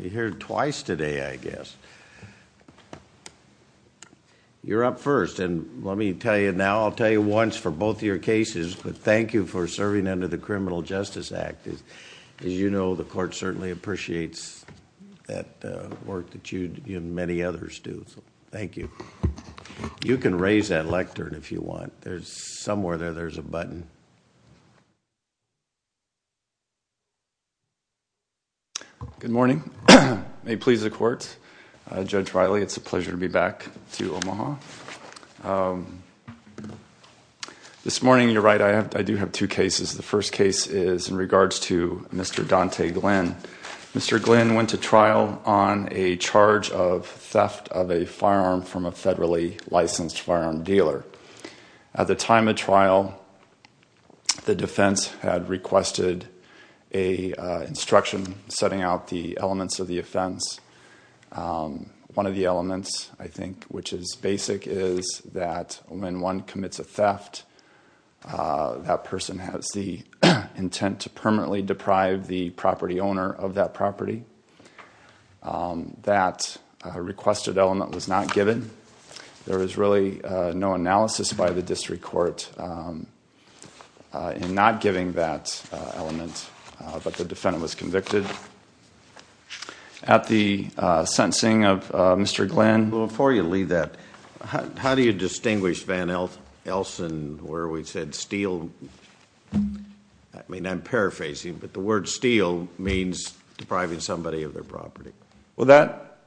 You're here twice today, I guess. You're up first, and let me tell you now, I'll tell you once for both of your cases, but thank you for serving under the Criminal Justice Act. As you know, the court certainly appreciates that work that you and many others do, so thank you. You can raise that lectern if you want. There's somewhere there, there's a button. Judge Riley, it's a pleasure to be back to Omaha. This morning, you're right, I do have two cases. The first case is in regards to Mr. Dante Glinn. Mr. Glinn went to trial on a charge of theft of a firearm from a federally licensed firearm dealer. At the time of trial, the defense had requested an instruction setting out the elements of the offense. One of the elements, I think, which is basic, is that when one commits a theft, that person has the intent to permanently deprive the property owner of that property. That requested element was not given. There is really no analysis by the in not giving that element, but the defendant was convicted. At the sentencing of Mr. Glinn... Well, before you leave that, how do you distinguish Van Elsen where we said steal? I mean, I'm paraphrasing, but the word steal means depriving somebody of their property. Well,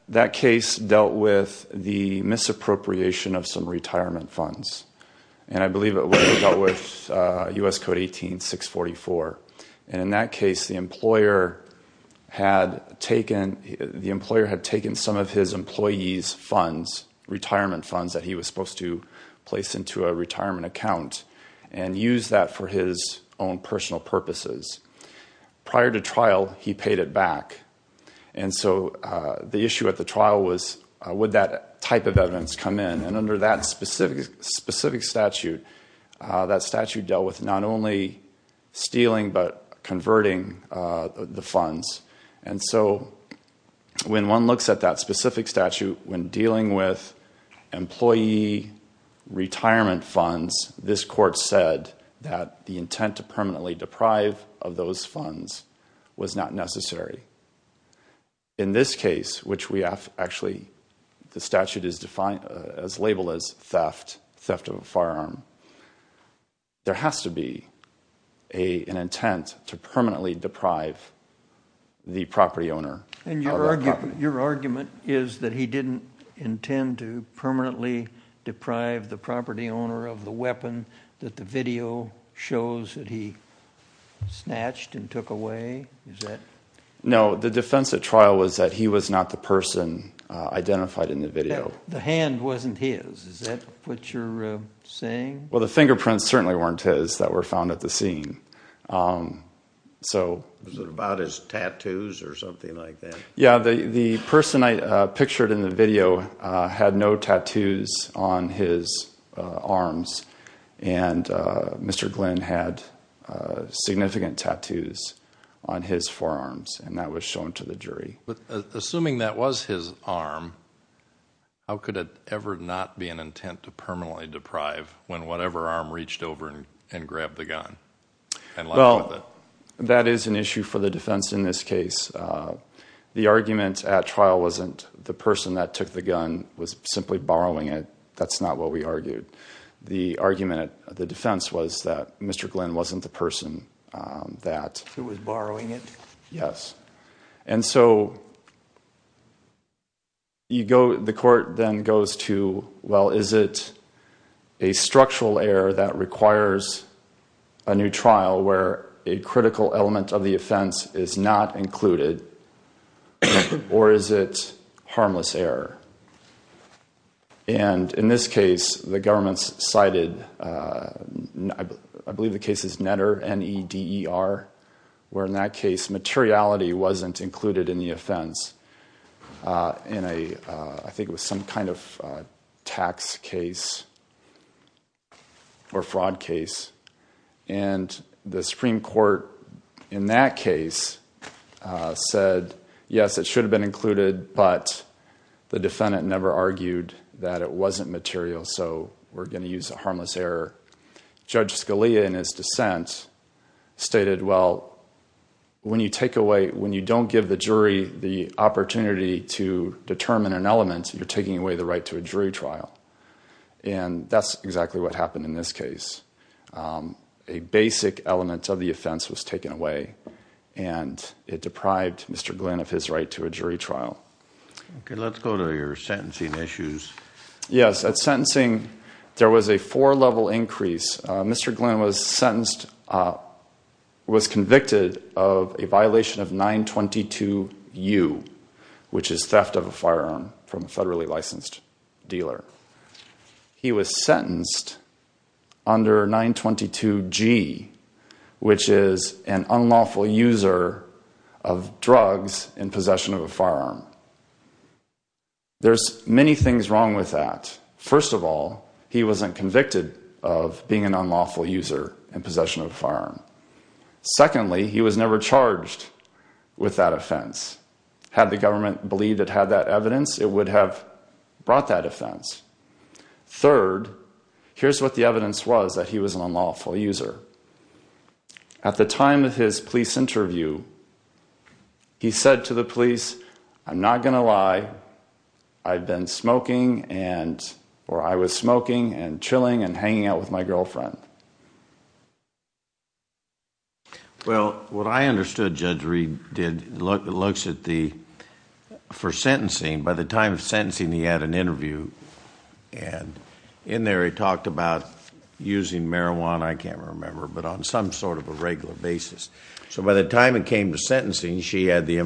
that case dealt with the U.S. Code 18-644. In that case, the employer had taken some of his employees' retirement funds that he was supposed to place into a retirement account and used that for his own personal purposes. Prior to trial, he paid it back. The issue at the trial was, would that type of evidence come in? Under that specific statute, that statute dealt with not only stealing, but converting the funds. When one looks at that specific statute, when dealing with employee retirement funds, this court said that the intent to permanently deprive of those funds was not necessary. In this case, which we label as theft of a firearm, there has to be an intent to permanently deprive the property owner. And your argument is that he didn't intend to permanently deprive the property owner of the weapon that the video shows that he snatched and took away? No, the defense at trial was that he was not the person identified in the video. The hand wasn't his? Is that what you're saying? Well, the fingerprints certainly weren't his that were found at the scene. Was it about his tattoos or something like that? Yeah, the person I pictured in the video had no tattoos on his arms, and Mr. Glenn had significant tattoos on his forearms, and that was shown to the jury. But assuming that was his arm, how could it ever not be an intent to permanently deprive when whatever arm reached over and grabbed the gun? Well, that is an issue for the defense in this case. The argument at trial wasn't the person that took the gun was simply borrowing it. That's not what we argued. The argument of the person that was borrowing it. Yes, and so the court then goes to, well, is it a structural error that requires a new trial where a critical element of the offense is not included, or is it harmless error? And in this case, the where in that case, materiality wasn't included in the offense in a, I think it was some kind of tax case or fraud case. And the Supreme Court in that case said, yes, it should have been included, but the defendant never argued that it wasn't harmless error. Judge Scalia, in his dissent, stated, well, when you take away, when you don't give the jury the opportunity to determine an element, you're taking away the right to a jury trial. And that's exactly what happened in this case. A basic element of the offense was taken away, and it deprived Mr. Glenn of his right to a jury trial. Okay, let's go to your sentencing issues. Yes, at sentencing there was a four-level increase. Mr. Glenn was sentenced, was convicted of a violation of 922 U, which is theft of a firearm from a federally licensed dealer. He was sentenced under 922 G, which is an unlawful user of drugs in possession of a firearm. Secondly, he was never charged with that offense. Had the government believed it had that evidence, it would have brought that offense. Third, here's what the evidence was that he was an unlawful user. At the time of his police interview, he said to the police, I'm not gonna lie, I've been smoking and, or I was smoking and chilling and hanging out with my girlfriend. Well, what I understood Judge Reed did, looks at the, for sentencing, by the time of sentencing he had an interview and in there he talked about using marijuana, I can't remember, but on some sort of a regular basis. So by the time it came to sentencing, she had the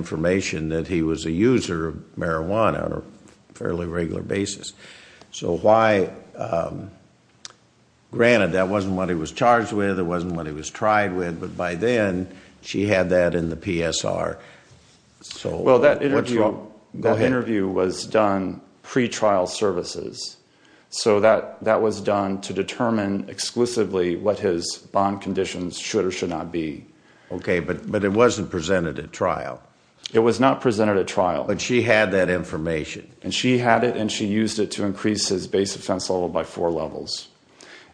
granted that wasn't what he was charged with, it wasn't what he was tried with, but by then she had that in the PSR. Well, that interview was done pre-trial services. So that was done to determine exclusively what his bond conditions should or should not be. Okay, but it wasn't presented at trial. It was not presented at trial. But she had that information. And she had it and she was told by four levels.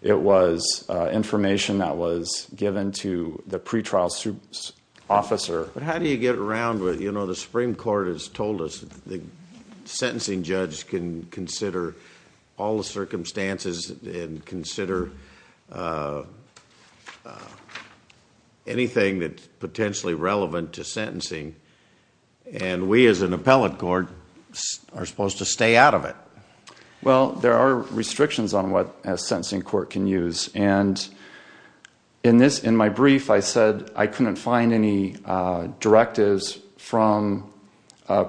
It was information that was given to the pre-trial officer. But how do you get around with, you know, the Supreme Court has told us the sentencing judge can consider all the circumstances and consider anything that's potentially relevant to sentencing. And we as an appellate court are supposed to stay out of it. Well, there are restrictions on what a sentencing court can use. And in my brief I said I couldn't find any directives from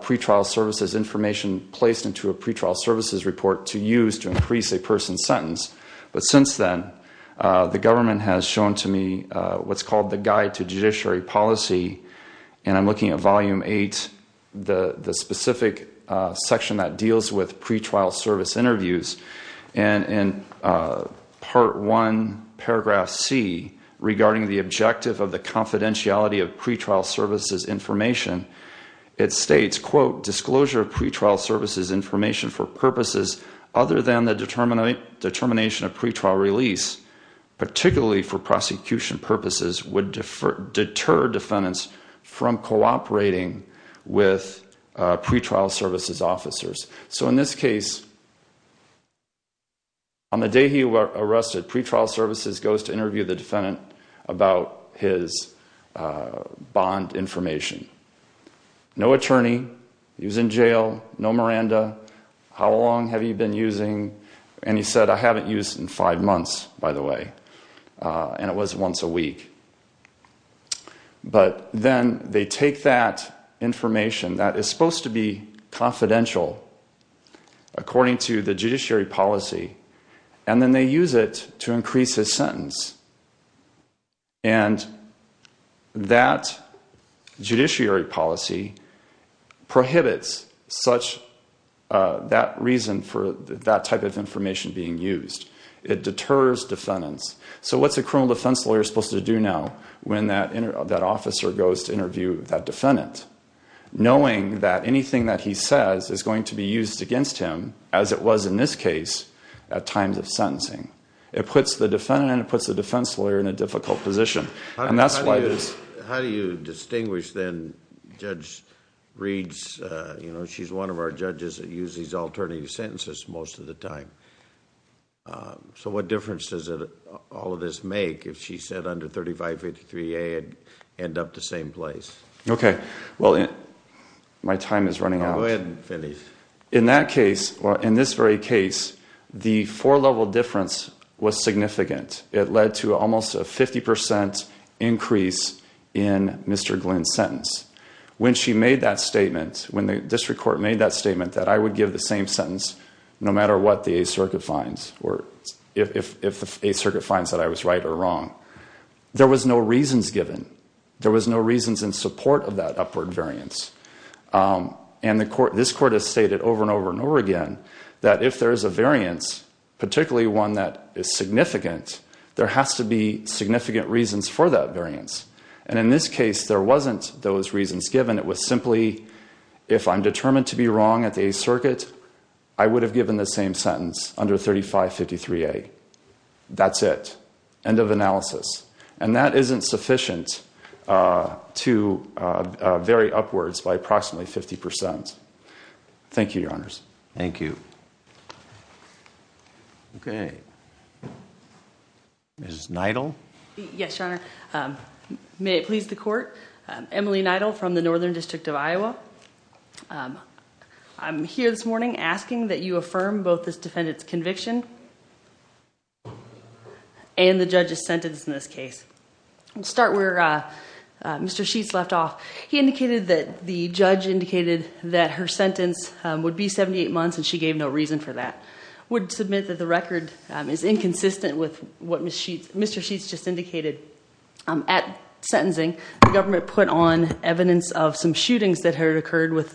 pre-trial services information placed into a pre-trial services report to use to increase a person's sentence. But since then the government has shown to me what's called the Guide to Judiciary Policy. And I'm going to go to a specific section that deals with pre-trial service interviews. And in Part 1, Paragraph C, regarding the objective of the confidentiality of pre-trial services information, it states, quote, disclosure of pre-trial services information for purposes other than the determination of pre-trial release, particularly for prosecution purposes, would deter defendants from cooperating with pre-trial services officers. So in this case, on the day he were arrested, pre-trial services goes to interview the defendant about his bond information. No attorney. He was in jail. No Miranda. How long have you been using? And he said, I haven't used in five months, by the way. And it was once a week. But then they take that information that is supposed to be confidential, according to the judiciary policy, and then they use it to increase his sentence. And that judiciary policy prohibits that reason for that type of information being used. It deters defendants. So what's a criminal defense lawyer supposed to do now when that officer goes to interview that defendant, knowing that anything that he says is going to be used against him, as it was in this case, at times of sentencing? It puts the defendant and it puts the defense lawyer in a difficult position. And that's why it is... How do you distinguish then, Judge Reeds, you know, she's one of our judges that use these alternative sentences most of the time. So what difference does all of this make if she said under 3583A it'd end up the same place? Okay, well, my time is running out. Go ahead and finish. In that case, well, in this very case, the four-level difference was significant. It led to almost a 50% increase in Mr. Glynn's sentence. When she made that statement, when the district court made that statement, that I would give the same sentence no matter what the Eighth Circuit finds that I was right or wrong, there was no reasons given. There was no reasons in support of that upward variance. And this court has stated over and over and over again that if there is a variance, particularly one that is significant, there has to be significant reasons for that variance. And in this case, there wasn't those reasons given. It was simply if I'm determined to be wrong at the Eighth Circuit, I would have given the same as 3583A. That's it. End of analysis. And that isn't sufficient to vary upwards by approximately 50%. Thank you, Your Honors. Thank you. Okay. Ms. Neidl? Yes, Your Honor. May it please the Court. Emily Neidl from the Northern District of Iowa. I'm here this morning asking that you affirm both this and the judge's sentence in this case. I'll start where Mr. Sheets left off. He indicated that the judge indicated that her sentence would be 78 months and she gave no reason for that. I would submit that the record is inconsistent with what Mr. Sheets just indicated. At sentencing, the government put on evidence of some shootings that had occurred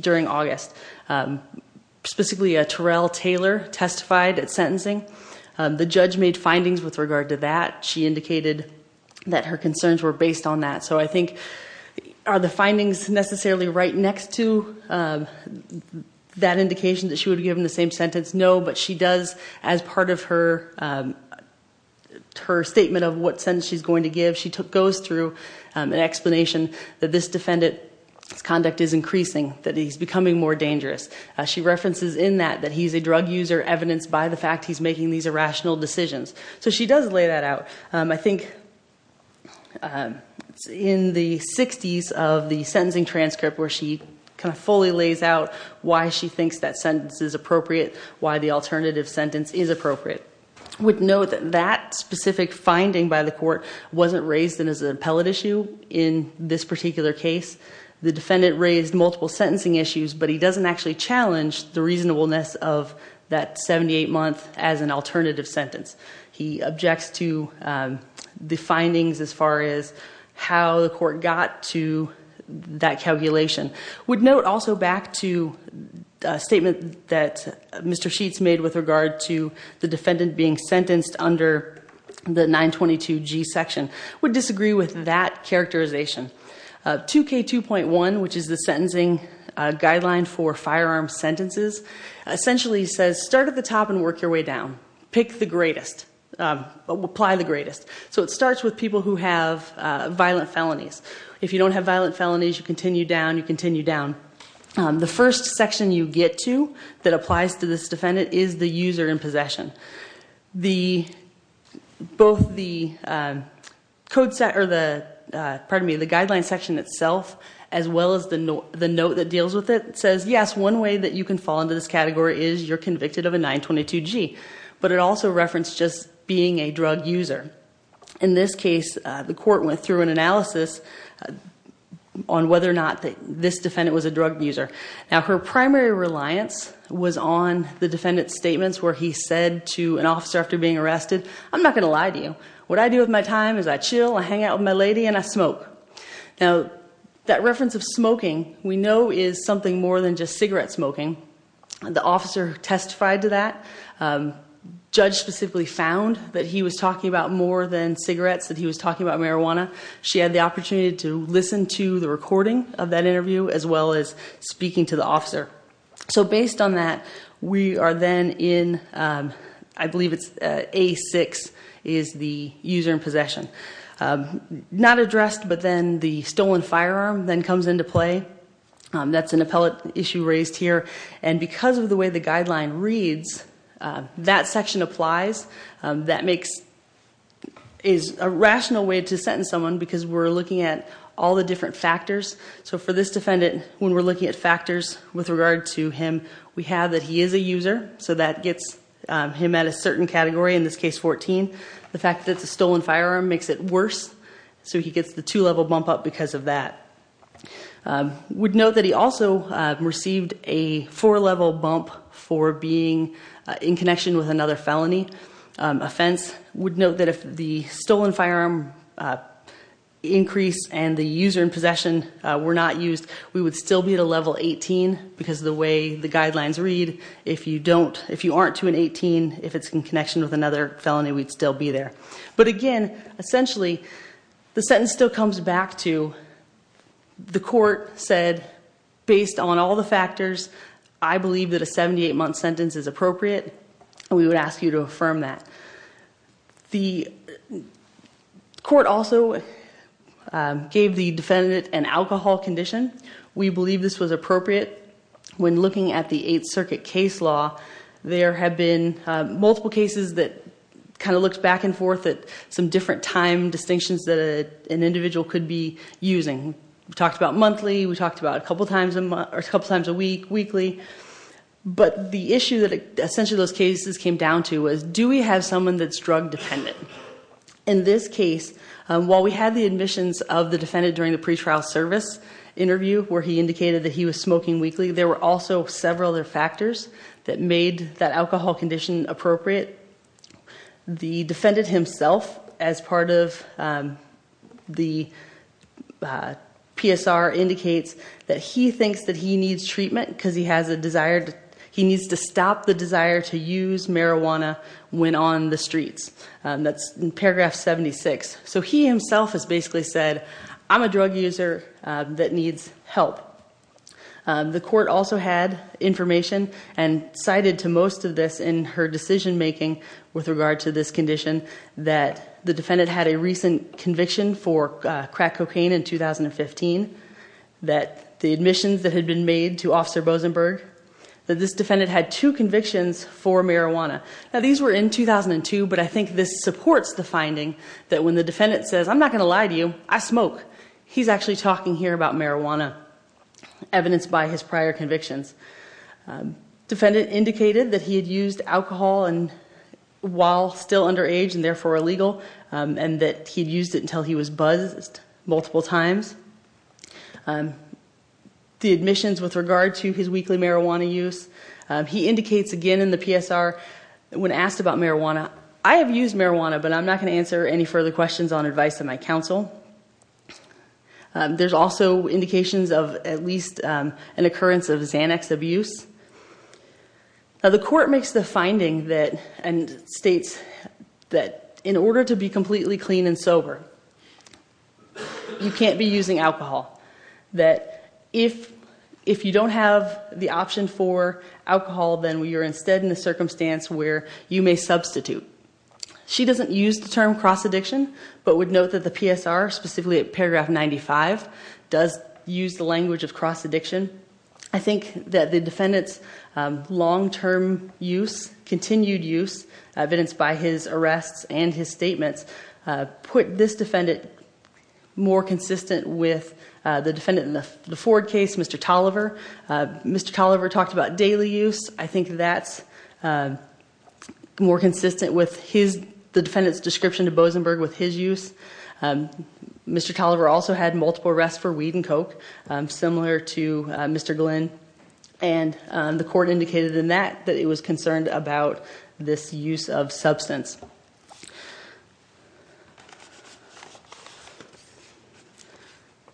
during August. Specifically, Terrell Taylor testified at sentencing. The judge made findings with regard to that. She indicated that her concerns were based on that. So I think, are the findings necessarily right next to that indication that she would have given the same sentence? No. But she does, as part of her statement of what sentence she's going to give, she goes through an explanation that this defendant's conduct is increasing, that he's becoming more dangerous. She references in that that he's a drug user, evidenced by the fact he's making these irrational decisions. So she does lay that out. I think in the 60s of the sentencing transcript where she kind of fully lays out why she thinks that sentence is appropriate, why the alternative sentence is appropriate. I would note that that specific finding by the court wasn't raised as an appellate issue in this particular case. The defendant raised multiple sentencing issues, but he didn't use the reasonableness of that 78 month as an alternative sentence. He objects to the findings as far as how the court got to that calculation. I would note also back to a statement that Mr. Sheets made with regard to the defendant being sentenced under the 922 G section. I would disagree with that characterization. 2k 2.1, which is the sentencing guideline for firearm sentences, essentially says start at the top and work your way down. Pick the greatest, apply the greatest. So it starts with people who have violent felonies. If you don't have violent felonies, you continue down, you continue down. The first section you get to that applies to this defendant is the user in possession. Both the guideline section itself, as well as the note that deals with it, says yes, one way that you can fall into this category is you're convicted of a 922 G, but it also referenced just being a drug user. In this case, the court went through an analysis on whether or not this defendant was a drug user. Now her primary reliance was on the defendant's statements where he said to an officer after being arrested, I'm not going to lie to you. What I do with my time is I That reference of smoking we know is something more than just cigarette smoking. The officer testified to that. Judge specifically found that he was talking about more than cigarettes, that he was talking about marijuana. She had the opportunity to listen to the recording of that interview, as well as speaking to the officer. So based on that, we are then in, I believe it's A6, is the stolen firearm then comes into play. That's an appellate issue raised here, and because of the way the guideline reads, that section applies. That is a rational way to sentence someone because we're looking at all the different factors. So for this defendant, when we're looking at factors with regard to him, we have that he is a user, so that gets him at a certain category, in this case 14. The fact that the stolen firearm makes it worse, so he gets the two-level bump up because of that. We'd note that he also received a four-level bump for being in connection with another felony offense. We'd note that if the stolen firearm increase and the user in possession were not used, we would still be at a level 18 because of the way the guidelines read. If you don't, if you aren't to an 18, if it's in connection with another felony, we'd still be there. But again, essentially, the sentence still comes back to the court said, based on all the factors, I believe that a 78-month sentence is appropriate. We would ask you to affirm that. The court also gave the defendant an alcohol condition. We believe this was appropriate. When looking at the 8th Circuit case law, there have been multiple cases that kind of looked back and forth at some different time distinctions that an individual could be using. We talked about monthly, we talked about a couple times a month or a couple times a week, weekly, but the issue that essentially those cases came down to was do we have someone that's drug dependent? In this case, while we had the admissions of the defendant during the pretrial service interview where he indicated that he was smoking weekly, there were also several other factors that made that alcohol condition appropriate. The defendant himself, as part of the PSR, indicates that he thinks that he needs treatment because he has a desire, he needs to stop the desire to use marijuana when on the streets. That's in paragraph 76. So he himself has basically said, I'm a drug user that needs help. The defendant has alluded to most of this in her decision-making with regard to this condition, that the defendant had a recent conviction for crack cocaine in 2015, that the admissions that had been made to Officer Bosenberg, that this defendant had two convictions for marijuana. Now these were in 2002, but I think this supports the finding that when the defendant says, I'm not going to lie to you, I smoke, he's actually talking here about marijuana, evidenced by his that he had used alcohol while still underage and therefore illegal, and that he'd used it until he was buzzed multiple times. The admissions with regard to his weekly marijuana use, he indicates again in the PSR, when asked about marijuana, I have used marijuana but I'm not going to answer any further questions on advice of my counsel. There's also indications of at least an The court makes the finding that, and states that in order to be completely clean and sober, you can't be using alcohol. That if you don't have the option for alcohol, then you're instead in the circumstance where you may substitute. She doesn't use the term cross-addiction, but would note that the PSR, specifically at paragraph 95, does use the language of cross-addiction. I continued use, evidenced by his arrests and his statements, put this defendant more consistent with the defendant in the Ford case, Mr. Tolliver. Mr. Tolliver talked about daily use. I think that's more consistent with the defendant's description to Bozenberg with his use. Mr. Tolliver also had multiple arrests for weed and coke, similar to Mr. Glynn, and the court indicated in that, that it was concerned about this use of substance.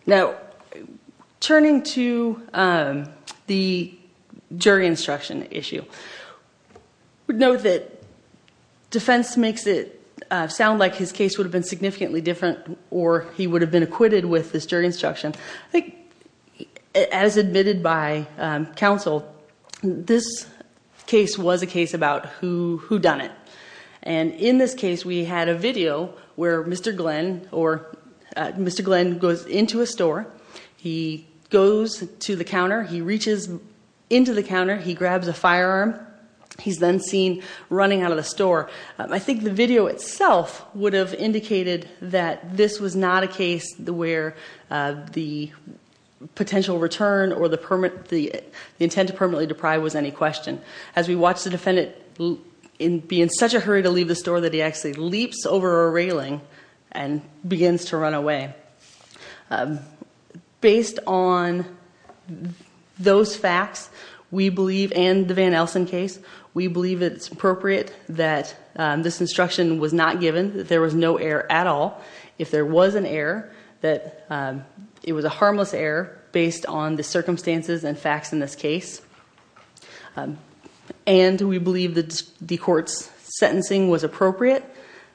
Now, turning to the jury instruction issue, note that defense makes it sound like his case would have been significantly different, or he would have been acquitted with this jury instruction. I think, as admitted by counsel, this case was a case about whodunit. In this case, we had a video where Mr. Glynn goes into a store, he goes to the counter, he reaches into the counter, he grabs a firearm, he's then seen running out of the store. I think the video itself would have indicated that this was not a case where the potential return or the intent to permanently deprive was any question. As we watched the defendant be in such a hurry to leave the store that he actually leaps over a railing and begins to run away. Based on those facts, we believe, and the Van Elsen case, we believe it's appropriate that this instruction was not given, that there was no error at all. If there was an error, that it was a harmless error based on the circumstances and facts in this case. And we believe that the court's sentencing was appropriate,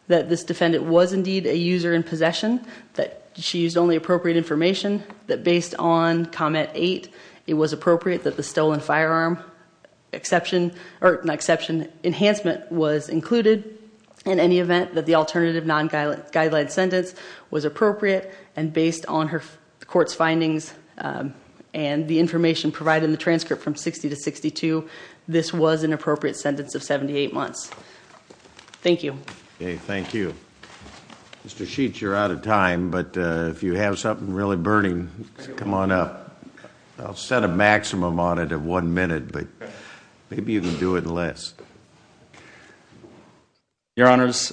that this defendant was indeed a user in possession, that she used only appropriate information, that based on comment eight, it was appropriate that the stolen firearm exception, or not of non-guideline sentence, was appropriate, and based on her court's findings and the information provided in the transcript from 60 to 62, this was an appropriate sentence of 78 months. Thank you. Okay, thank you. Mr. Sheets, you're out of time, but if you have something really burning, come on up. I'll set a maximum on of one minute, but maybe you can do it in less. Your Honors,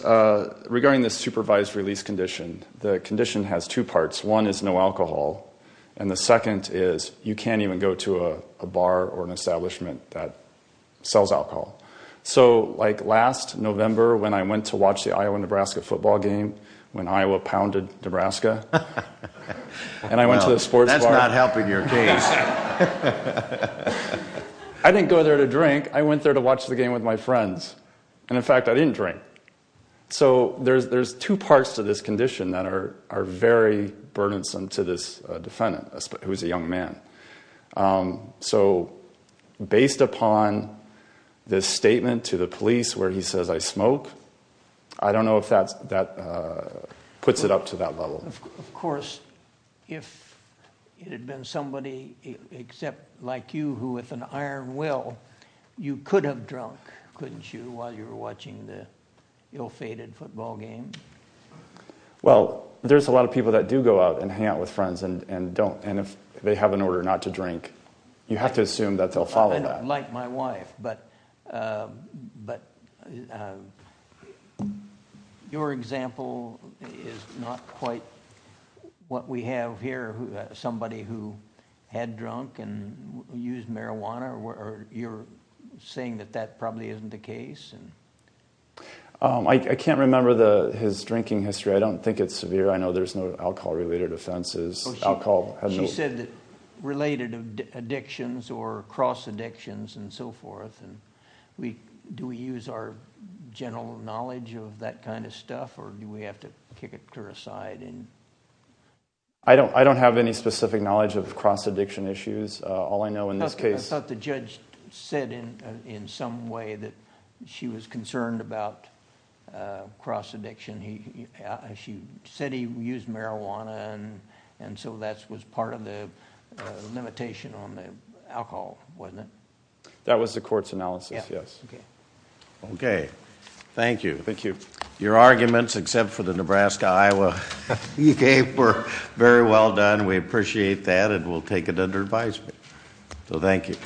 regarding the supervised release condition, the condition has two parts. One is no alcohol, and the second is, you can't even go to a bar or an establishment that sells alcohol. So, like last November, when I went to watch the Iowa-Nebraska football game, when Iowa I didn't go there to drink, I went there to watch the game with my friends, and in fact, I didn't drink. So, there's two parts to this condition that are very burdensome to this defendant, who is a young man. So, based upon this statement to the police where he says, I smoke, I don't know if that puts it up to that level. Of course, if it had been somebody except like you, who with an iron will, you could have drunk, couldn't you, while you were watching the ill-fated football game? Well, there's a lot of people that do go out and hang out with friends and don't, and if they have an order not to drink, you have to quite what we have here, somebody who had drunk and used marijuana, or you're saying that that probably isn't the case? I can't remember his drinking history. I don't think it's severe. I know there's no alcohol-related offenses. She said that related addictions or cross addictions and so forth, and we, do we use our general knowledge of that kind of stuff, or do we have to kick it aside? I don't have any specific knowledge of cross-addiction issues. All I know in this case... I thought the judge said in some way that she was concerned about cross-addiction. She said he used marijuana, and so that was part of the limitation on the alcohol, wasn't it? That was the court's analysis, yes. Okay. Thank you. Thank you. Your arguments, except for the Nebraska-Iowa-UK, were very well done. We appreciate that, and we'll take it under advisement. So, thank you.